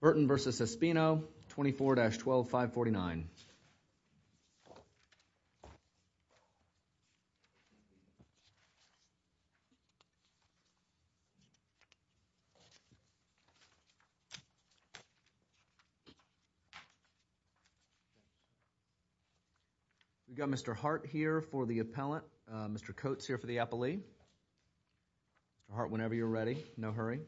Burton v. Espino, 24-12, 549 We've got Mr. Hart here for the appellant, Mr. Coates here for the appellee. Mr. Hart, whenever you're ready, no hurry.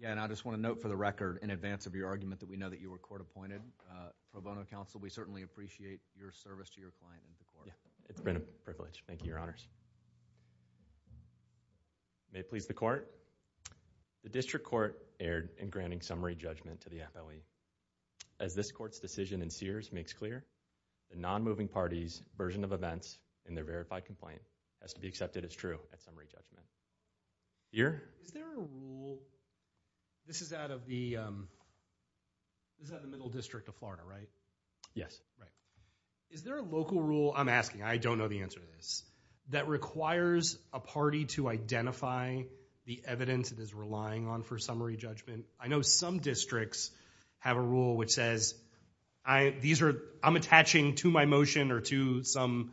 Yeah, and I just want to note for the record, in advance of your argument, that we know that you were court-appointed. Pro bono counsel, we certainly appreciate your service to your client and to the court. It's been a privilege. Thank you, Your Honors. May it please the court, the district court erred in granting summary judgment to the appellee. As this court's decision in Sears makes clear, the non-moving party's version of events in their verified complaint has to be accepted as true at summary judgment. Here? Is there a rule, this is out of the middle district of Florida, right? Yes. Is there a local rule, I'm asking, I don't know the answer to this, that requires a party to identify the evidence it is relying on for summary judgment? I know some districts have a rule which says, I'm attaching to my motion or to some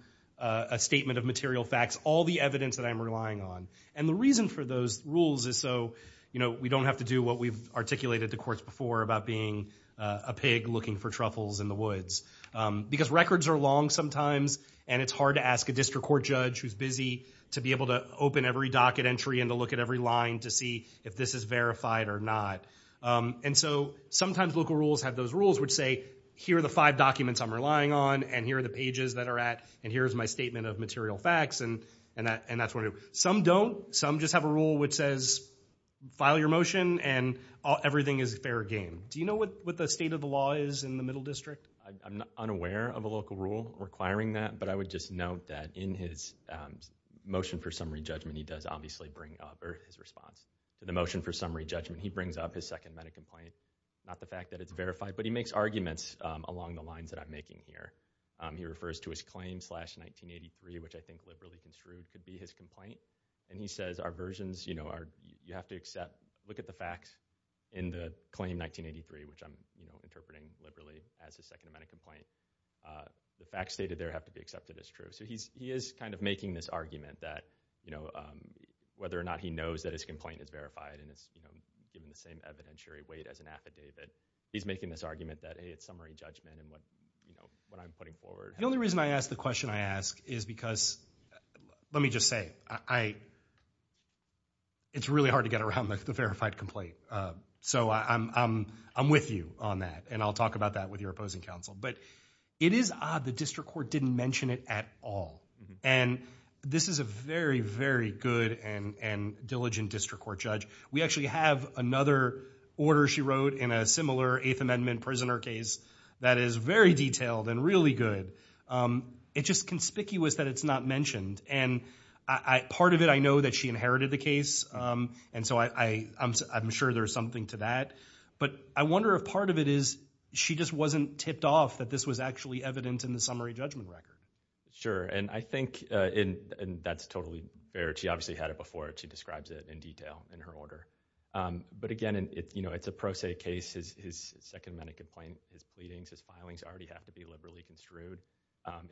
statement of material facts all the evidence that I'm relying on. And the reason for those rules is so we don't have to do what we've articulated to courts before about being a pig looking for truffles in the woods. Because records are long sometimes and it's hard to ask a district court judge who's busy to be able to open every docket entry and to look at every line to see if this is verified or not. And so sometimes local rules have those rules which say, here are the five documents I'm relying on and here are the pages that are at and here's my statement of material facts and that's what I want to do. Some don't, some just have a rule which says, file your motion and everything is a fair game. Do you know what the state of the law is in the middle district? I'm unaware of a local rule requiring that, but I would just note that in his motion for summary judgment he does obviously bring up, or his response, the motion for summary judgment he brings up his second meta-complaint. Not the fact that it's verified, but he makes arguments along the lines that I'm making here. He refers to his claim slash 1983, which I think liberally construed could be his complaint, and he says our versions, you have to accept, look at the facts in the claim 1983, which I'm interpreting liberally as his second meta-complaint. The facts stated there have to be accepted as true. So he is kind of making this argument that whether or not he knows that his complaint is verified and it's given the same evidentiary weight as an affidavit, he's making this argument that it's summary judgment and what I'm putting forward. The only reason I ask the question I ask is because, let me just say, it's really hard to get around the verified complaint. So I'm with you on that and I'll talk about that with your opposing counsel. But it is odd the district court didn't mention it at all. And this is a very, very good and diligent district court judge. We actually have another order she wrote in a similar Eighth Amendment prisoner case that is very detailed and really good. It's just conspicuous that it's not mentioned. And part of it, I know that she inherited the case, and so I'm sure there's something to that. But I wonder if part of it is she just wasn't tipped off that this was actually evident in the summary judgment record. Sure. And I think that's totally fair. She obviously had it before. She describes it in detail in her order. But again, it's a pro se case. His second meta-complaint, his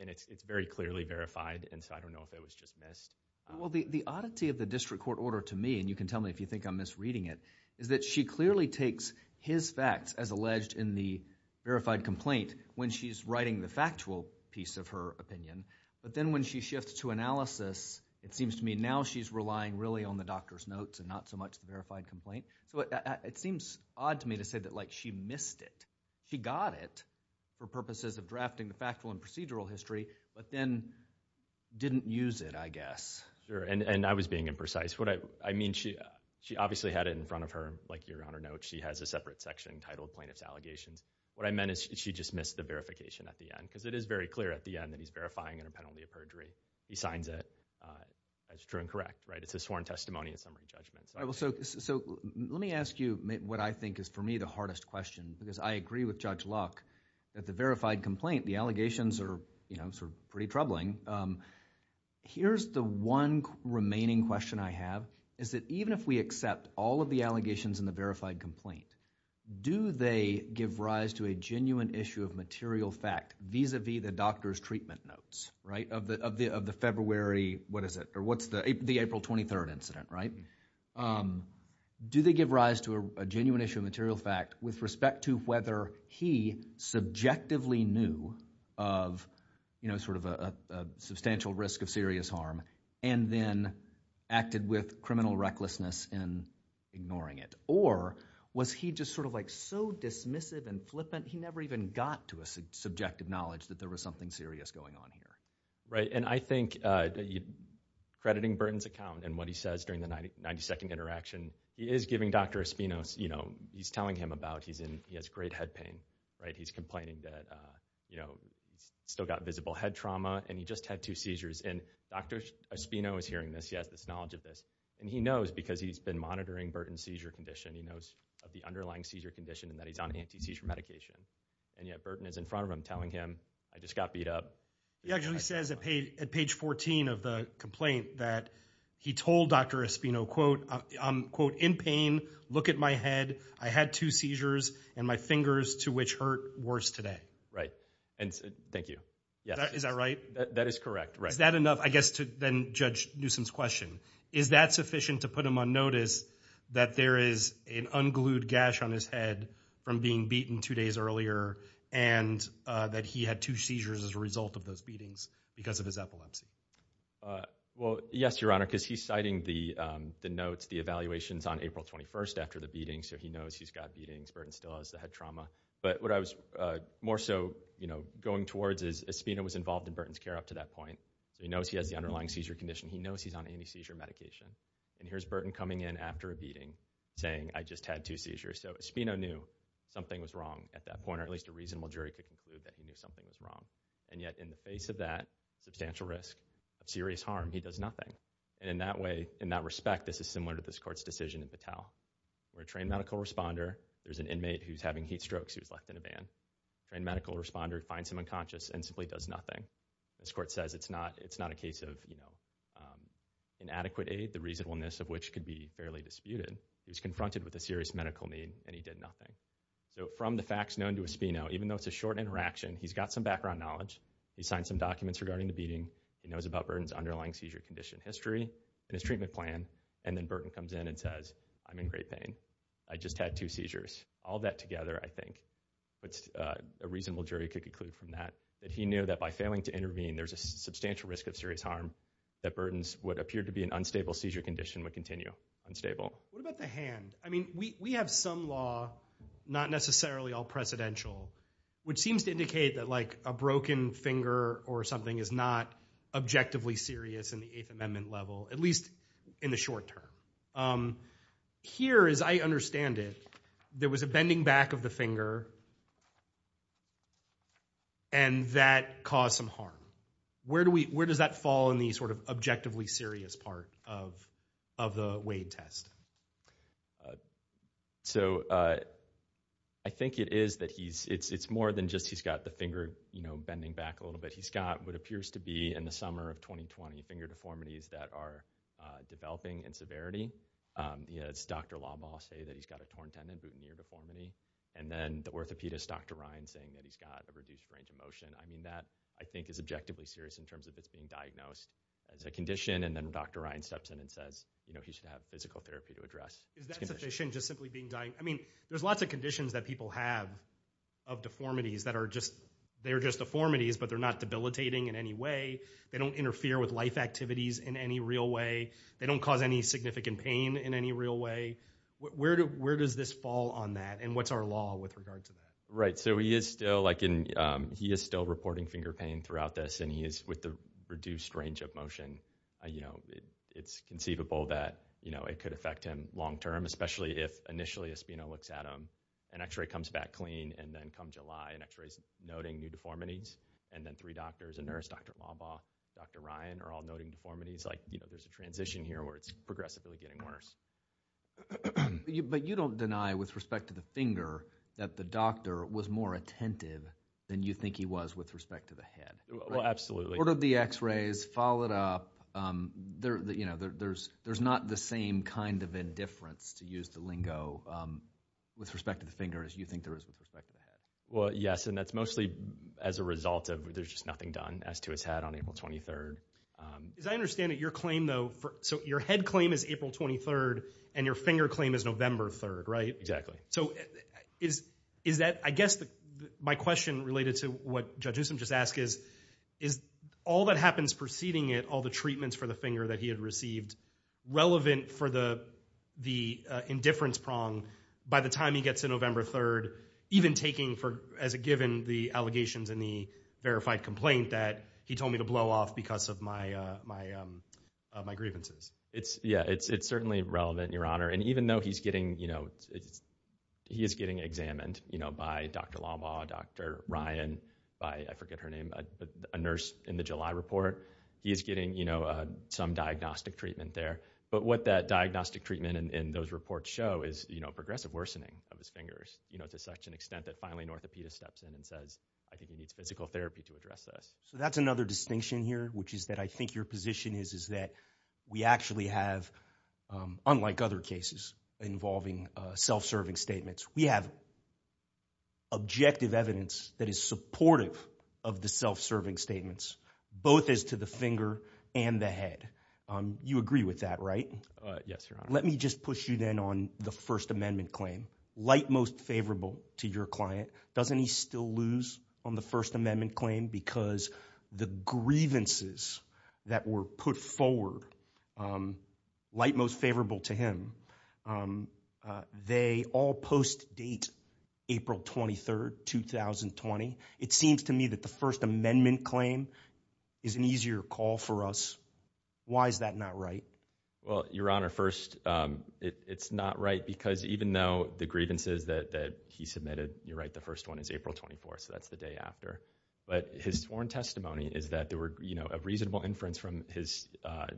And it's very clearly verified. And so I don't know if it was just missed. Well, the oddity of the district court order to me, and you can tell me if you think I'm misreading it, is that she clearly takes his facts as alleged in the verified complaint when she's writing the factual piece of her opinion. But then when she shifts to analysis, it seems to me now she's relying really on the doctor's notes and not so much the verified complaint. So it seems odd to me to say that, like, she missed it. She got it for purposes of drafting the factual and procedural history, but then didn't use it, I guess. Sure. And I was being imprecise. What I mean, she obviously had it in front of her, like you're on her note. She has a separate section titled Plaintiff's Allegations. What I meant is she just missed the verification at the end. Because it is very clear at the end that he's verifying in a penalty of perjury. He signs it as true and correct, right? It's a sworn testimony in summary judgment. So let me ask you what I think is, for me, the hardest question. Because I agree with Judge Locke that the verified complaint, the allegations are, you know, pretty troubling. Here's the one remaining question I have, is that even if we accept all of the allegations in the verified complaint, do they give rise to a genuine issue of material fact vis-a-vis the doctor's treatment notes, right, of the February, what is it, or what's the April 23rd incident, right? Do they give rise to a genuine issue of material fact with respect to whether he subjectively knew of, you know, sort of a substantial risk of serious harm and then acted with criminal recklessness in ignoring it? Or was he just sort of like so dismissive and flippant, he never even got to a subjective knowledge that there was something serious going on here? Right, and I think, crediting Burton's account and what he says during the 90-second interaction, he is giving Dr. Espino, you know, he's telling him about, he has great head pain, right, he's complaining that, you know, he's still got visible head trauma and he just had two seizures and Dr. Espino is hearing this, he has this knowledge of this, and he knows because he's been monitoring Burton's seizure condition, he knows of the underlying seizure condition and that he's on anti-seizure medication. And yet Burton is in front of him telling him, I just got beat up. He actually says at page 14 of the complaint that he told Dr. Espino, quote, in pain, look at my head, I had two seizures and my fingers, to which hurt worse today. Right, and thank you. Is that right? That is correct, right. Is that enough, I guess, to then judge Newsom's question? Is that sufficient to put him on notice that there is an unglued gash on his head from being beaten two days earlier and that he had two seizures as a result of those beatings because of his epilepsy? Well, yes, Your Honor, because he's citing the notes, the evaluations on April 21st after the beating, so he knows he's got beatings, Burton still has the head trauma, but what I was more so, you know, going towards is Espino was involved in Burton's care up to that point, he knows he has the underlying seizure condition, he knows he's on anti-seizure medication, and here's Burton coming in after a beating saying, I just had two seizures, so Espino knew something was wrong at that point, or at least a reasonable jury could conclude that he knew something was wrong, and yet in the face of that substantial risk of serious harm, he does nothing, and in that way, in that respect, this is similar to this court's decision in Patel, where a trained medical responder, there's an inmate who's having heat strokes who's left in a van, trained medical responder finds him unconscious and simply does nothing, this court says it's not a case of, you know, inadequate aid, the reasonableness of which could be fairly disputed, he's confronted with a serious medical need and he did nothing, so from the facts known to Espino, even though it's a short interaction, he's got some background knowledge, he's signed some documents regarding the beating, he knows about Burton's underlying seizure condition history, and his treatment plan, and then Burton comes in and says, I'm in great pain, I just had two seizures, all that together, I think, a reasonable jury could conclude from that, that he knew that by failing to intervene there's a substantial risk of serious harm, that Burton's what appeared to be an unstable seizure condition would continue, unstable. What about the hand? I mean, we have some law, not necessarily all precedential, which seems to indicate that like, a broken finger or something is not objectively serious in the Eighth Amendment level, at least in the short term, here, as I understand it, there was a bending back of the finger, and that caused some harm, where do we, where does that fall in the sort of objectively serious part of the Wade test? So I think it is that he's, it's more than just he's got the finger, you know, bending back a little bit, he's got what appears to be, in the summer of 2020, finger deformities that are developing in severity, you know, it's Dr. Lawball saying that he's got a torn tendon, boutonniere deformity, and then the orthopedist, Dr. Ryan, saying that he's got a reduced range of motion, I mean, that, I think, is objectively serious in terms of it's being diagnosed as a condition, and then Dr. Ryan steps in and says, you know, he should have physical therapy to address. Is that sufficient, just simply being diagnosed, I mean, there's lots of conditions that people have of deformities that are just, they're just deformities, but they're not debilitating in any way, they don't interfere with life activities in any real way, they don't cause any significant pain in any real way, where does this fall on that, and what's our law with regard to that? Right, so he is still, like, he is still reporting finger pain throughout this, and he is, with the reduced range of motion, you know, it's conceivable that, you know, it could affect him long-term, especially if initially a spino looks at him, an x-ray comes back clean, and then come July, an x-ray's noting new deformities, and then three doctors, a nurse, Dr. Lawball, Dr. Ryan, are all noting deformities, like, you know, there's a transition here where it's progressively getting worse. But you don't deny, with respect to the finger, that the doctor was more attentive than you think he was with respect to the head, right? Well, absolutely. Ordered the x-rays, followed up, you know, there's not the same kind of indifference to use the lingo with respect to the finger as you think there is with respect to the head. Well, yes, and that's mostly as a result of, there's just nothing done as to his head on April 23rd. As I understand it, your claim, though, so your head claim is April 23rd, and your finger claim is November 3rd, right? Exactly. So, is that, I guess, my question related to what Judge Usom just asked is, is all that happens preceding it, all the treatments for the finger that he had received, relevant for the indifference prong by the time he gets to November 3rd, even taking, as a given, the allegations in the verified complaint that he told me to blow off because of my grievances? It's, yeah, it's certainly relevant, your honor. And even though he's getting, you know, he is getting examined, you know, by Dr. Lawbaugh, Dr. Ryan, by, I forget her name, a nurse in the July report, he is getting, you know, some diagnostic treatment there. But what that diagnostic treatment and those reports show is, you know, progressive worsening of his fingers, you know, to such an extent that finally an orthopedist steps in and says, I think he needs physical therapy to address this. So that's another distinction here, which is that I think your position is, is that we actually have, unlike other cases involving self-serving statements, we have objective evidence that is supportive of the self-serving statements, both as to the finger and the You agree with that, right? Yes, your honor. Let me just push you then on the First Amendment claim. Light most favorable to your client, doesn't he still lose on the First Amendment claim because the grievances that were put forward, light most favorable to him, they all post-date April 23rd, 2020. It seems to me that the First Amendment claim is an easier call for us. Why is that not right? Well, your honor, first, it's not right because even though the grievances that he submitted, you're right, the first one is April 24th, so that's the day after. But his sworn testimony is that there were, you know, a reasonable inference from his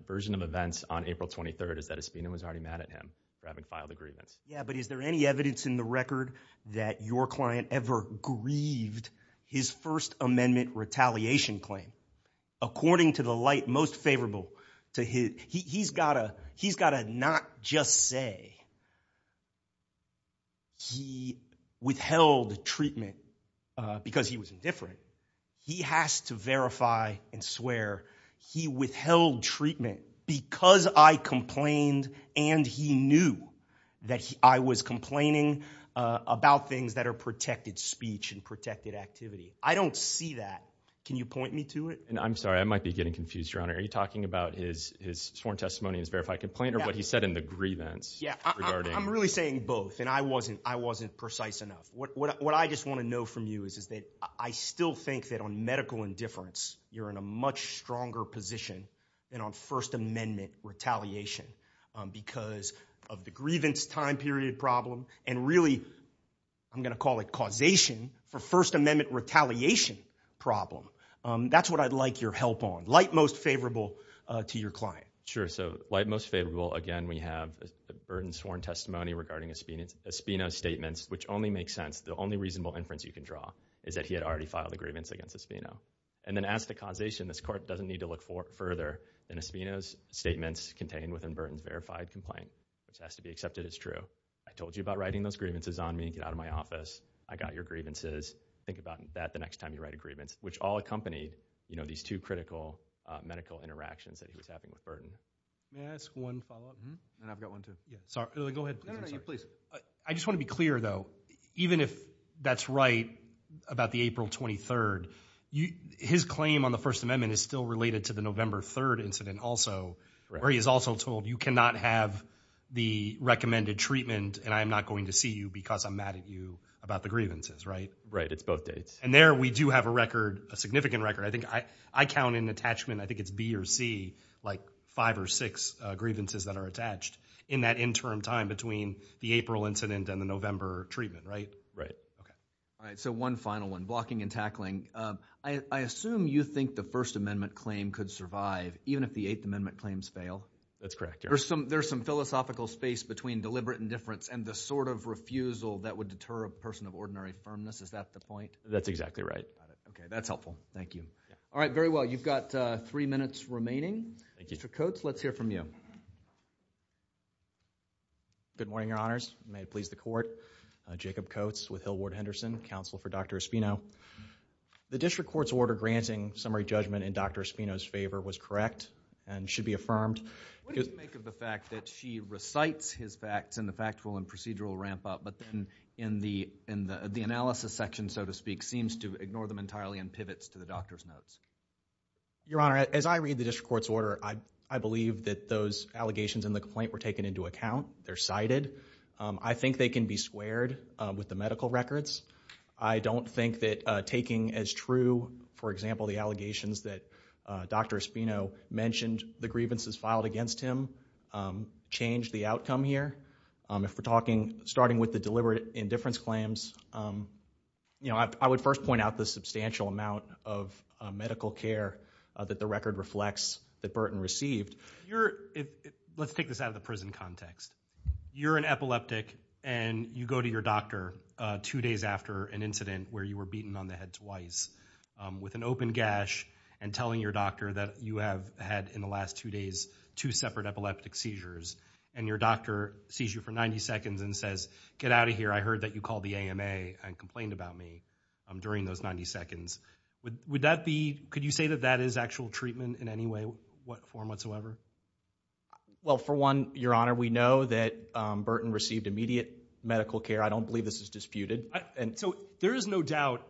version of events on April 23rd is that Espino was already mad at him for having filed the grievance. Yeah, but is there any evidence in the record that your client ever grieved his First Amendment retaliation claim? According to the light most favorable to his, he's gotta, he's gotta not just say he withheld treatment because he was indifferent. He has to verify and swear he withheld treatment because I complained and he knew that I was complaining about things that are protected speech and protected activity. I don't see that. Can you point me to it? And I'm sorry, I might be getting confused, your honor. Are you talking about his sworn testimony and his verified complaint or what he said in the grievance? Yeah, I'm really saying both and I wasn't, I wasn't precise enough. What I just want to know from you is, is that I still think that on medical indifference, you're in a much stronger position than on First Amendment retaliation because of the grievance time period problem and really, I'm going to call it causation for First Amendment retaliation problem. That's what I'd like your help on, light most favorable to your client. Sure. So light most favorable. Again, we have the burden sworn testimony regarding Espino's statements, which only makes sense. The only reasonable inference you can draw is that he had already filed a grievance against Espino. And then as to causation, this court doesn't need to look further than Espino's statements contained within Burton's verified complaint, which has to be accepted as true. I told you about writing those grievances on me, get out of my office. I got your grievances. Think about that the next time you write a grievance, which all accompanied, you know, these two critical medical interactions that he was having with Burton. May I ask one follow-up? And I've got one too. Yeah. Sorry. Go ahead. No, no, no. You, please. I just want to be clear, though. Even if that's right about the April 23rd, his claim on the First Amendment is still related to the November 3rd incident also, where he is also told, you cannot have the recommended treatment and I am not going to see you because I'm mad at you about the grievances, right? Right. It's both dates. And there we do have a record, a significant record. I think I count an attachment, I think it's B or C, like five or six grievances that are between the April incident and the November treatment, right? Right. Okay. All right. So one final one. Blocking and tackling. I assume you think the First Amendment claim could survive even if the Eighth Amendment claims fail? That's correct. There's some philosophical space between deliberate indifference and the sort of refusal that would deter a person of ordinary firmness. Is that the point? That's exactly right. Okay. That's helpful. Thank you. All right. Very well. You've got three minutes remaining. Thank you. Mr. Coates, let's hear from you. Good morning, Your Honors. May it please the Court. Jacob Coates with Hillward Henderson, counsel for Dr. Espino. The district court's order granting summary judgment in Dr. Espino's favor was correct and should be affirmed. What do you think of the fact that she recites his facts in the factual and procedural ramp-up but then in the analysis section, so to speak, seems to ignore them entirely and pivots to the doctor's notes? Your Honor, as I read the district court's order, I believe that those allegations in the complaint were taken into account. They're cited. I think they can be squared with the medical records. I don't think that taking as true, for example, the allegations that Dr. Espino mentioned the grievances filed against him changed the outcome here. If we're talking, starting with the deliberate indifference claims, you know, I would first point out the substantial amount of medical care that the record reflects that Burton received. Let's take this out of the prison context. You're an epileptic and you go to your doctor two days after an incident where you were beaten on the head twice with an open gash and telling your doctor that you have had in the last two days two separate epileptic seizures. And your doctor sees you for 90 seconds and says, get out of here, I heard that you called the AMA and complained about me during those 90 seconds. Would that be, could you say that that is actual treatment in any way, form whatsoever? Well, for one, Your Honor, we know that Burton received immediate medical care. I don't believe this is disputed. And so there is no doubt,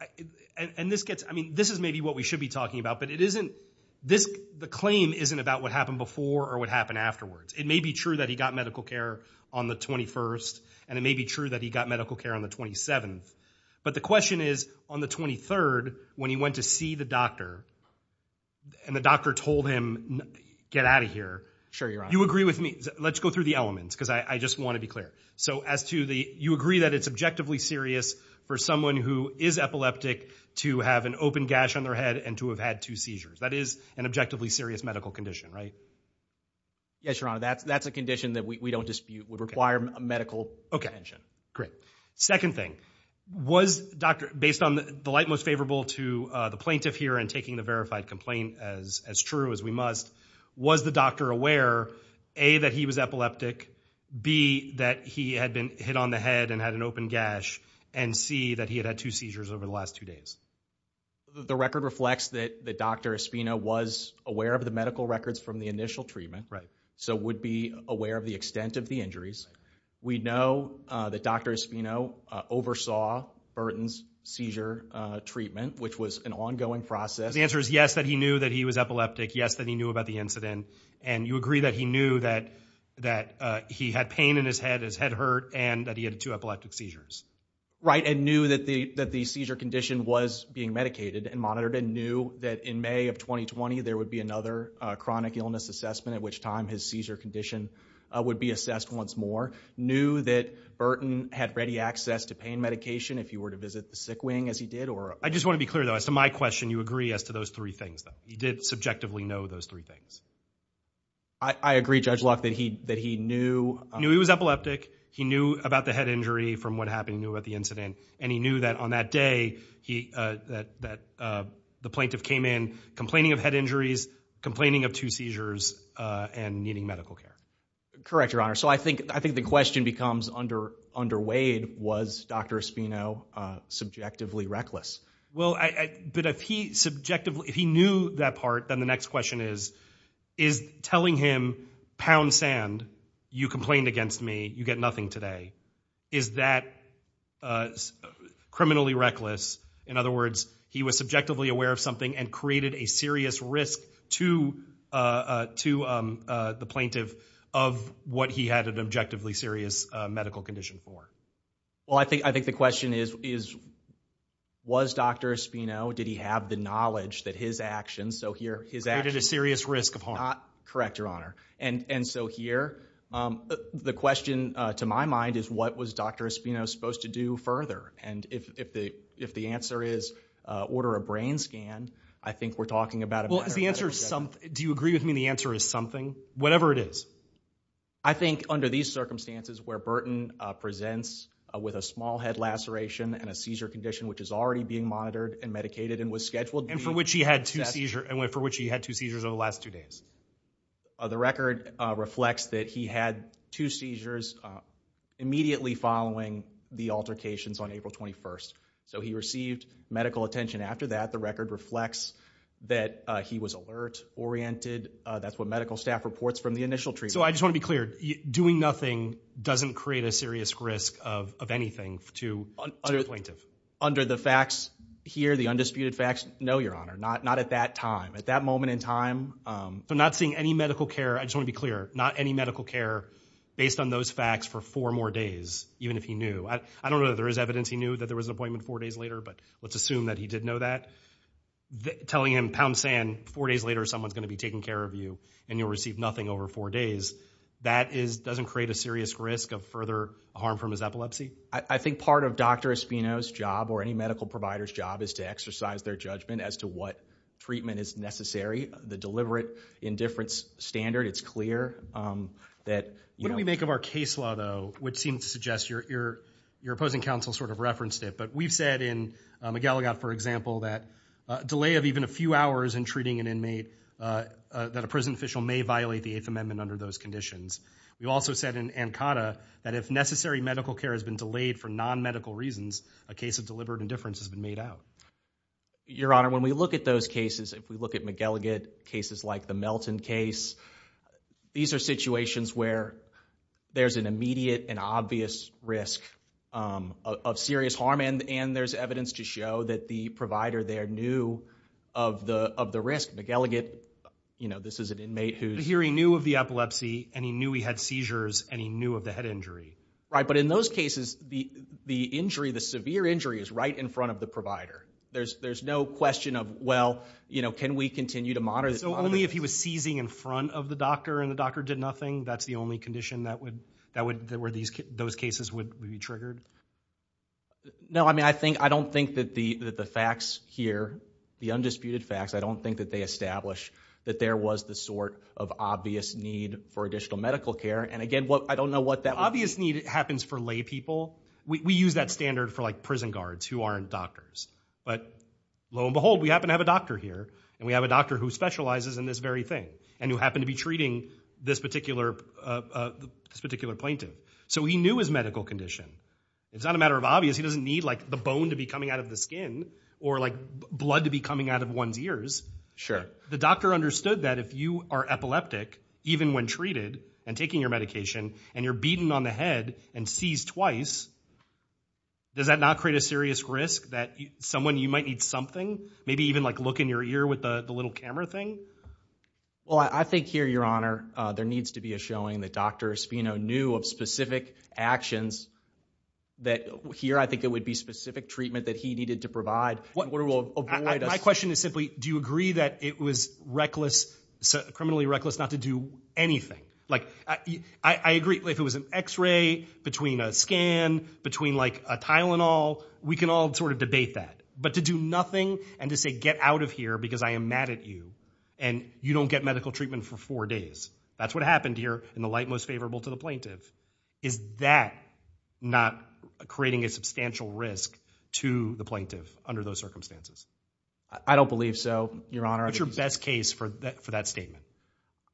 and this gets, I mean, this is maybe what we should be talking about, but it isn't, this, the claim isn't about what happened before or what happened afterwards. It may be true that he got medical care on the 21st and it may be true that he got medical care on the 27th. But the question is on the 23rd, when he went to see the doctor and the doctor told him, get out of here. Sure, Your Honor. You agree with me. Let's go through the elements because I just want to be clear. So as to the, you agree that it's objectively serious for someone who is epileptic to have an open gash on their head and to have had two seizures. That is an objectively serious medical condition, right? Yes, Your Honor, that's, that's a condition that we don't dispute would require a medical attention. Great. Second thing, was Dr., based on the light most favorable to the plaintiff here and taking the verified complaint as, as true as we must, was the doctor aware, A, that he was epileptic, B, that he had been hit on the head and had an open gash, and C, that he had had two seizures over the last two days? The record reflects that, that Dr. Espino was aware of the medical records from the initial treatment, right? So would be aware of the extent of the injuries. We know that Dr. Espino oversaw Burton's seizure treatment, which was an ongoing process. The answer is yes, that he knew that he was epileptic, yes, that he knew about the incident. And you agree that he knew that, that he had pain in his head, his head hurt, and that he had two epileptic seizures, right? And knew that the, that the seizure condition was being medicated and monitored and knew that in May of 2020, there would be another chronic illness assessment at which time his seizure condition would be assessed once more. Knew that Burton had ready access to pain medication if he were to visit the sick wing as he did, or? I just want to be clear, though. As to my question, you agree as to those three things, though. He did subjectively know those three things. I agree, Judge Locke, that he, that he knew. Knew he was epileptic. He knew about the head injury from what happened, knew about the incident, and he knew that on that day, he, that, that the plaintiff came in complaining of head injuries, complaining of two seizures, and needing medical care. Correct, Your Honor. So I think, I think the question becomes under, underweighed, was Dr. Espino subjectively reckless? Well, I, I, but if he subjectively, if he knew that part, then the next question is, is telling him, pound sand, you complained against me, you get nothing today. Is that criminally reckless? In other words, he was subjectively aware of something and created a serious risk to, to the plaintiff of what he had an objectively serious medical condition for. Well, I think, I think the question is, is, was Dr. Espino, did he have the knowledge that his actions, so here, his actions. Created a serious risk of harm. Correct, Your Honor. And, and so here, the question to my mind is, what was Dr. Espino supposed to do further? And if, if the, if the answer is, order a brain scan, I think we're talking about a Well, is the answer something, do you agree with me the answer is something? Whatever it is. I think under these circumstances where Burton presents with a small head laceration and a seizure condition which is already being monitored and medicated and was scheduled to be. And for which he had two seizures, for which he had two seizures over the last two days. The record reflects that he had two seizures immediately following the altercations on April 21st. So he received medical attention after that. The record reflects that he was alert oriented. That's what medical staff reports from the initial treatment. So I just want to be clear. Doing nothing doesn't create a serious risk of, of anything to the plaintiff. Under the facts here, the undisputed facts? No, Your Honor. Not, not at that time. At that moment in time. So not seeing any medical care. I just want to be clear. Not any medical care based on those facts for four more days. Even if he knew. I don't know that there is evidence he knew that there was an appointment four days later, but let's assume that he did know that. Telling him, pound sand, four days later someone's going to be taking care of you and you'll receive nothing over four days. That is, doesn't create a serious risk of further harm from his epilepsy? I think part of Dr. Espino's job or any medical provider's job is to exercise their judgment as to what treatment is necessary. The deliberate indifference standard, it's clear that, you know. When we think of our case law though, which seems to suggest your, your, your opposing counsel sort of referenced it, but we've said in McElligot, for example, that a delay of even a few hours in treating an inmate, that a prison official may violate the Eighth Amendment under those conditions. We also said in Ancada that if necessary medical care has been delayed for non-medical reasons, a case of deliberate indifference has been made out. Your Honor, when we look at those cases, if we look at McElligot, cases like the Melton case, these are situations where there's an immediate and obvious risk of, of serious harm and, and there's evidence to show that the provider there knew of the, of the risk. McElligot, you know, this is an inmate who's... But here he knew of the epilepsy and he knew he had seizures and he knew of the head injury. Right, but in those cases, the, the injury, the severe injury is right in front of the provider. There's, there's no question of, well, you know, can we continue to monitor... So only if he was seizing in front of the doctor and the doctor did nothing, that's the only condition that would, that would, that were these, those cases would be triggered? No, I mean, I think, I don't think that the, that the facts here, the undisputed facts, I don't think that they establish that there was the sort of obvious need for additional medical care. And again, what, I don't know what that... Obvious need happens for lay people. We use that standard for like prison guards who aren't doctors, but lo and behold, we happen to have a doctor here and we have a doctor who specializes in this very thing and who happened to be treating this particular, uh, uh, this particular plaintiff. So he knew his medical condition. It's not a matter of obvious. He doesn't need like the bone to be coming out of the skin or like blood to be coming out of one's ears. Sure. The doctor understood that if you are epileptic, even when treated and taking your medication and you're beaten on the head and seized twice, does that not create a serious risk that someone, you might need something, maybe even like look in your ear with the little camera thing? Well, I think here, your honor, uh, there needs to be a showing that Dr. Espino knew of specific actions that here, I think it would be specific treatment that he needed to provide. What we will avoid... My question is simply, do you agree that it was reckless, criminally reckless not to do anything? Like, I agree if it was an x-ray between a scan, between like a Tylenol, we can all sort of debate that. But to do nothing and to say, get out of here because I am mad at you and you don't get medical treatment for four days. That's what happened here in the light most favorable to the plaintiff. Is that not creating a substantial risk to the plaintiff under those circumstances? I don't believe so, your honor. What's your best case for that statement?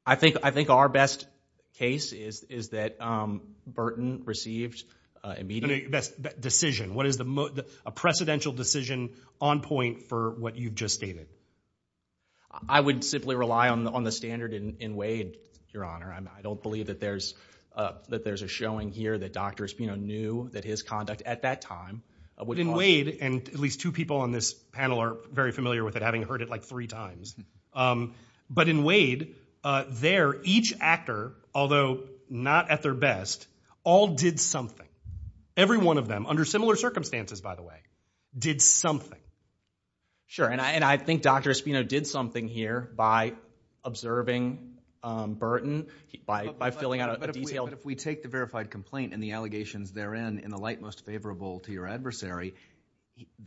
I think, I think our best case is, is that, um, Burton received, uh, immediate... Best decision. What is the most, a precedential decision on point for what you've just stated? I would simply rely on the, on the standard in Wade, your honor. I don't believe that there's, uh, that there's a showing here that Dr. Espino knew that his conduct at that time would cause... In Wade, and at least two people on this panel are very familiar with it, having heard it like three times, um, but in Wade, uh, there, each actor, although not at their best, all did something. Every one of them, under similar circumstances, by the way, did something. Sure, and I, and I think Dr. Espino did something here by observing, um, Burton, by, by filling out a detailed... But if we take the verified complaint and the allegations therein in the light most favorable to your adversary,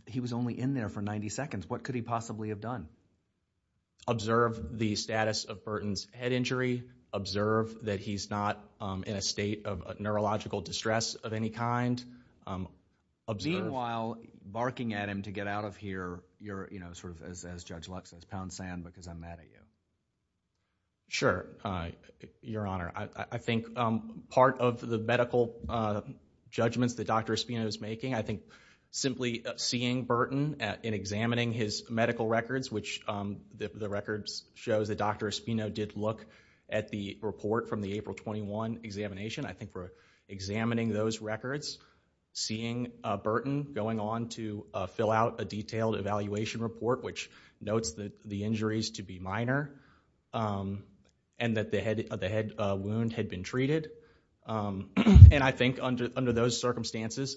he was only in there for 90 seconds. What could he possibly have done? Observe the status of Burton's head injury, observe that he's not, um, in a state of a neurological distress of any kind, um, observe... Observe... While barking at him to get out of here, you're, you know, sort of, as, as Judge Lux says, pound sand because I'm mad at you. Sure, uh, your honor. I, I think, um, part of the medical, uh, judgments that Dr. Espino's making, I think simply seeing Burton at, in examining his medical records, which, um, the, the records shows that Dr. Espino did look at the report from the April 21 examination. I think we're examining those records, seeing, uh, Burton going on to, uh, fill out a detailed evaluation report, which notes that the injuries to be minor, um, and that the head, the head wound had been treated, um, and I think under, under those circumstances,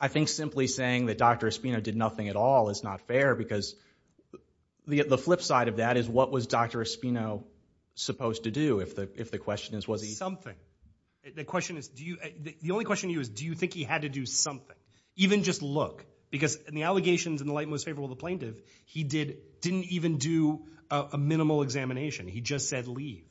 I think simply saying that Dr. Espino did nothing at all is not fair because the, the flip side of that is what was Dr. Espino supposed to do if the, if the question is was he... The question is, do you, the only question to you is, do you think he had to do something? Even just look, because in the allegations in the light most favorable of the plaintiff, he did, didn't even do a, a minimal examination. He just said leave.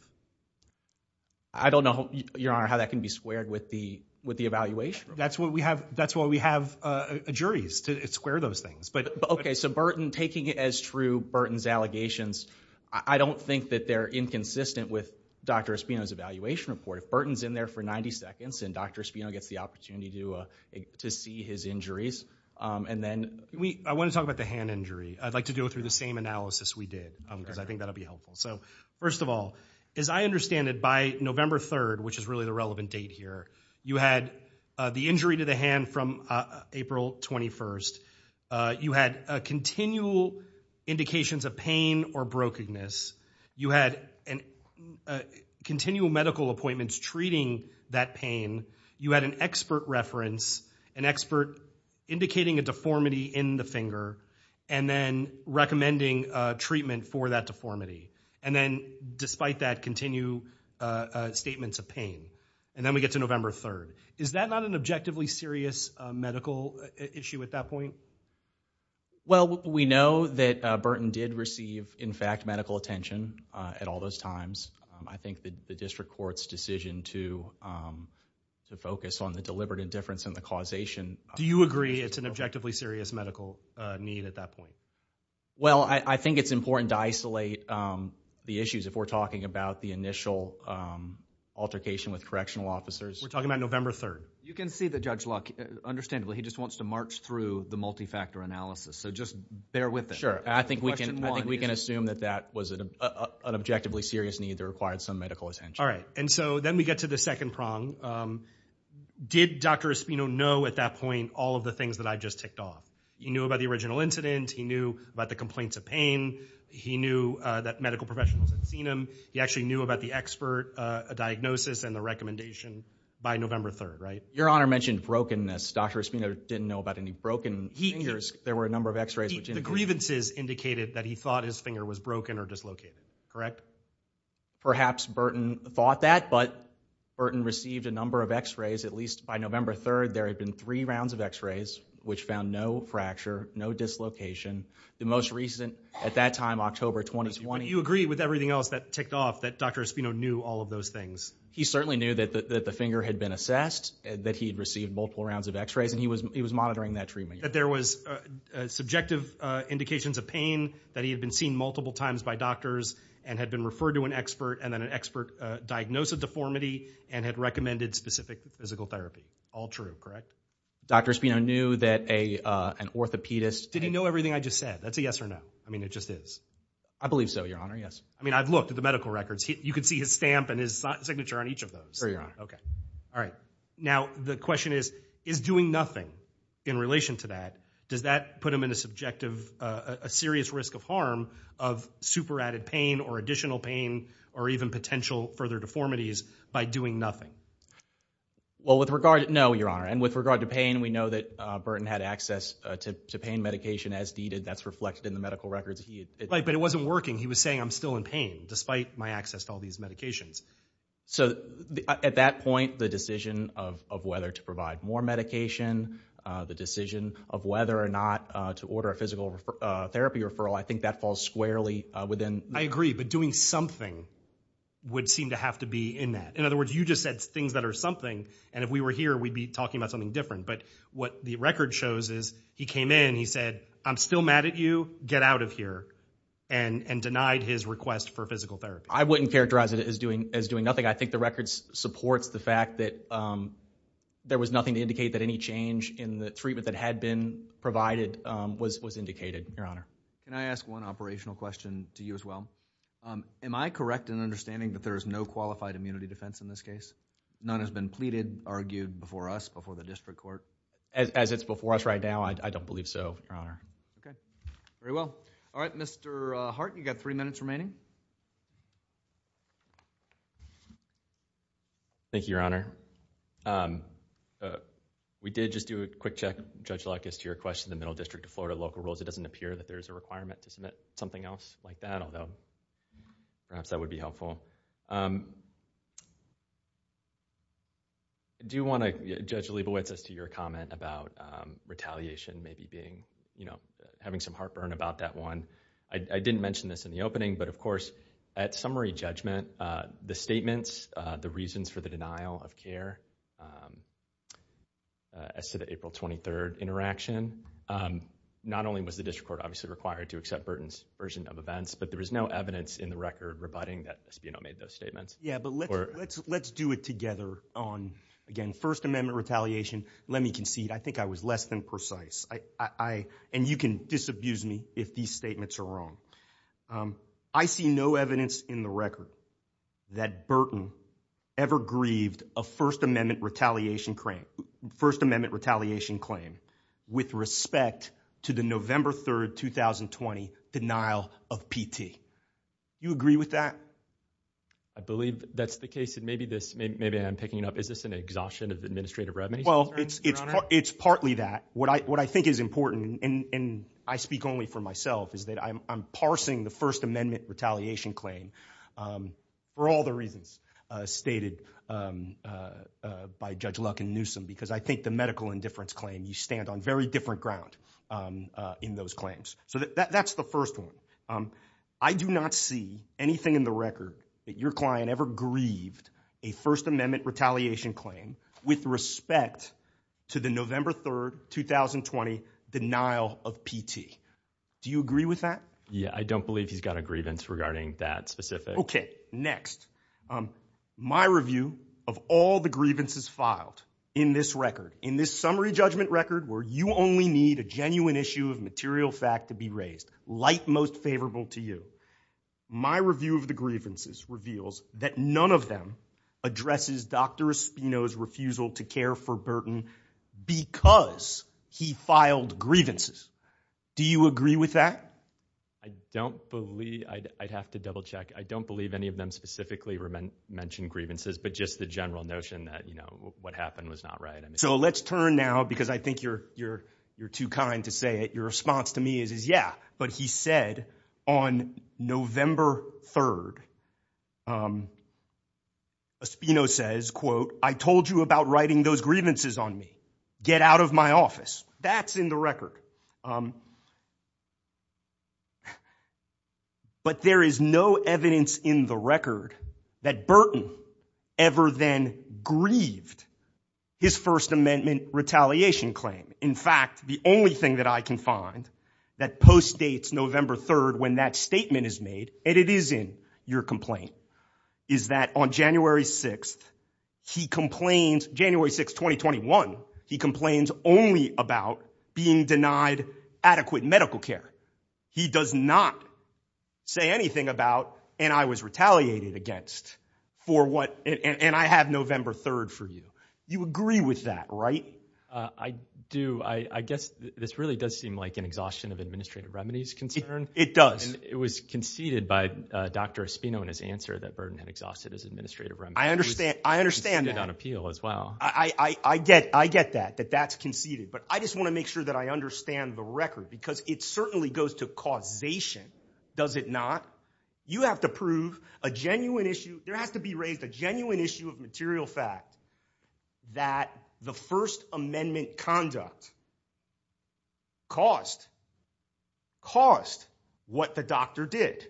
I don't know, your honor, how that can be squared with the, with the evaluation. That's what we have, that's why we have, uh, juries to square those things, but... Okay, so Burton taking it as true, Burton's allegations, I don't think that they're inconsistent with Dr. Espino's evaluation report. Burton's in there for 90 seconds, and Dr. Espino gets the opportunity to, uh, to see his injuries, um, and then we... I want to talk about the hand injury. I'd like to go through the same analysis we did, um, because I think that'll be helpful. So, first of all, as I understand it, by November 3rd, which is really the relevant date here, you had, uh, the injury to the hand from, uh, April 21st, uh, you had, uh, continual appointments treating that pain, you had an expert reference, an expert indicating a deformity in the finger, and then recommending, uh, treatment for that deformity. And then, despite that, continue, uh, uh, statements of pain. And then we get to November 3rd. Is that not an objectively serious, uh, medical issue at that point? Well, we know that, uh, Burton did receive, in fact, medical attention, uh, at all those times. Um, I think that the district court's decision to, um, to focus on the deliberate indifference in the causation... Do you agree it's an objectively serious medical, uh, need at that point? Well, I, I think it's important to isolate, um, the issues if we're talking about the initial, um, altercation with correctional officers. We're talking about November 3rd. You can see that Judge Luck, understandably, he just wants to march through the multi-factor analysis. So, just bear with it. Sure. I think we can... Question one is... It's not an objectively serious need that required some medical attention. All right. And so, then we get to the second prong. Um, did Dr. Espino know at that point all of the things that I just ticked off? He knew about the original incident. He knew about the complaints of pain. He knew, uh, that medical professionals had seen him. He actually knew about the expert, uh, diagnosis and the recommendation by November 3rd, right? Your Honor mentioned brokenness. Dr. Espino didn't know about any broken fingers. There were a number of x-rays which indicated... Correct? Perhaps Burton thought that, but Burton received a number of x-rays. At least by November 3rd, there had been three rounds of x-rays which found no fracture, no dislocation. The most recent, at that time, October 2020... You agree with everything else that ticked off that Dr. Espino knew all of those things? He certainly knew that the finger had been assessed, that he had received multiple rounds of x-rays, and he was monitoring that treatment. That there was, uh, subjective, uh, indications of pain, that he had been seen multiple times by doctors and had been referred to an expert, and then an expert, uh, diagnosed the deformity and had recommended specific physical therapy. All true, correct? Dr. Espino knew that a, uh, an orthopedist... Did he know everything I just said? That's a yes or no. I mean, it just is. I believe so, Your Honor. Yes. I mean, I've looked at the medical records. You can see his stamp and his signature on each of those. Sure, Your Honor. Okay. All right. Now, the question is, is doing nothing in relation to that, does that put him in a subjective, uh, a serious risk of harm of super-added pain or additional pain or even potential further deformities by doing nothing? Well, with regard, no, Your Honor. And with regard to pain, we know that, uh, Burton had access, uh, to pain medication as needed. That's reflected in the medical records. He had... Right, but it wasn't working. He was saying, I'm still in pain, despite my access to all these medications. So at that point, the decision of, of whether to provide more medication, uh, the decision of whether or not, uh, to order a physical, uh, therapy referral, I think that falls squarely, uh, within... I agree. But doing something would seem to have to be in that. In other words, you just said things that are something, and if we were here, we'd be talking about something different. But what the record shows is, he came in, he said, I'm still mad at you, get out of here, and, and denied his request for physical therapy. I wouldn't characterize it as doing, as doing nothing. I think the record supports the fact that, um, there was nothing to indicate that any change in the treatment that had been provided, um, was, was indicated, Your Honor. Can I ask one operational question to you as well? Um, am I correct in understanding that there is no qualified immunity defense in this case? None has been pleaded, argued before us, before the district court? As it's before us right now, I, I don't believe so, Your Honor. Okay. Very well. All right, Mr. Hart, you've got three minutes remaining. Thank you, Your Honor. Um, uh, we did just do a quick check, Judge Lutkis, to your question in the Middle District of Florida local rules. It doesn't appear that there's a requirement to submit something else like that, although perhaps that would be helpful. Um, I do want to, Judge Leibowitz, as to your comment about, um, retaliation maybe being, you know, having some heartburn about that one. I, I didn't mention this in the opening, but of course, at summary judgment, uh, the statements, uh, the reasons for the denial of care, um, uh, as to the April 23rd interaction, um, not only was the district court obviously required to accept Burton's version of events, but there is no evidence in the record rebutting that Espino made those statements. Yeah, but let's, let's, let's do it together on, again, First Amendment retaliation. Let me concede. I think I was less than precise. I, I, I, and you can disabuse me if these statements are wrong. Um, I see no evidence in the record that Burton ever grieved a First Amendment retaliation claim, First Amendment retaliation claim with respect to the November 3rd, 2020, denial of PT. You agree with that? I believe that's the case, and maybe this, maybe, maybe I'm picking it up. Is this an exhaustion of administrative remedies, Your Honor? Well, it's, it's, it's partly that. What I, what I think is important, and, and I speak only for myself, is that I'm, I'm parsing the First Amendment retaliation claim, um, for all the reasons, uh, stated, um, uh, by Judge Luck and Newsom, because I think the medical indifference claim, you stand on very different ground, um, uh, in those claims. So that, that, that's the first one. Um, I do not see anything in the record that your client ever grieved a First Amendment retaliation claim with respect to the November 3rd, 2020, denial of PT. Do you agree with that? Yeah. I don't believe he's got a grievance regarding that specific. Okay. Next. Um, my review of all the grievances filed in this record, in this summary judgment record where you only need a genuine issue of material fact to be raised, light most favorable to you, my review of the grievances reveals that none of them addresses Dr. Espino's refusal to care for Burton because he filed grievances. Do you agree with that? I don't believe, I'd, I'd have to double check. I don't believe any of them specifically mentioned grievances, but just the general notion that, you know, what happened was not right. So let's turn now, because I think you're, you're, you're too kind to say it. Your response to me is, is yeah. But he said on November 3rd, um, Espino says, quote, I told you about writing those grievances on me. Get out of my office. That's in the record. Um, but there is no evidence in the record that Burton ever then grieved his First Amendment retaliation claim. In fact, the only thing that I can find that postdates November 3rd, when that statement is made, and it is in your complaint, is that on January 6th, he complains, January 6th, 2021, he complains only about being denied adequate medical care. He does not say anything about, and I was retaliated against for what, and I have November 3rd for you. You agree with that, right? I do. I, I guess this really does seem like an exhaustion of administrative remedies concern. It does. It was conceded by Dr. Espino in his answer that Burton had exhausted his administrative remedies. I understand. I understand that. It was conceded on appeal as well. I, I, I get, I get that, that that's conceded, but I just want to make sure that I understand the record, because it certainly goes to causation, does it not? You have to prove a genuine issue, there has to be raised a genuine issue of material fact that the first amendment conduct caused, caused what the doctor did.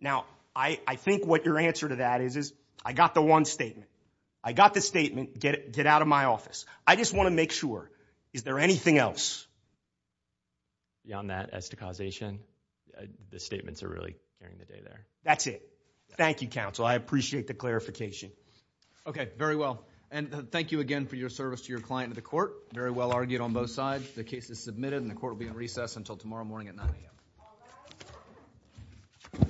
Now I, I think what your answer to that is, is I got the one statement. I got the statement, get it, get out of my office. I just want to make sure, is there anything else beyond that as to causation? The statements are really carrying the day there. That's it. Thank you, counsel. I appreciate the clarification. Okay, very well. And thank you again for your service to your client and the court. Very well argued on both sides. The case is submitted and the court will be in recess until tomorrow morning at 9 a.m.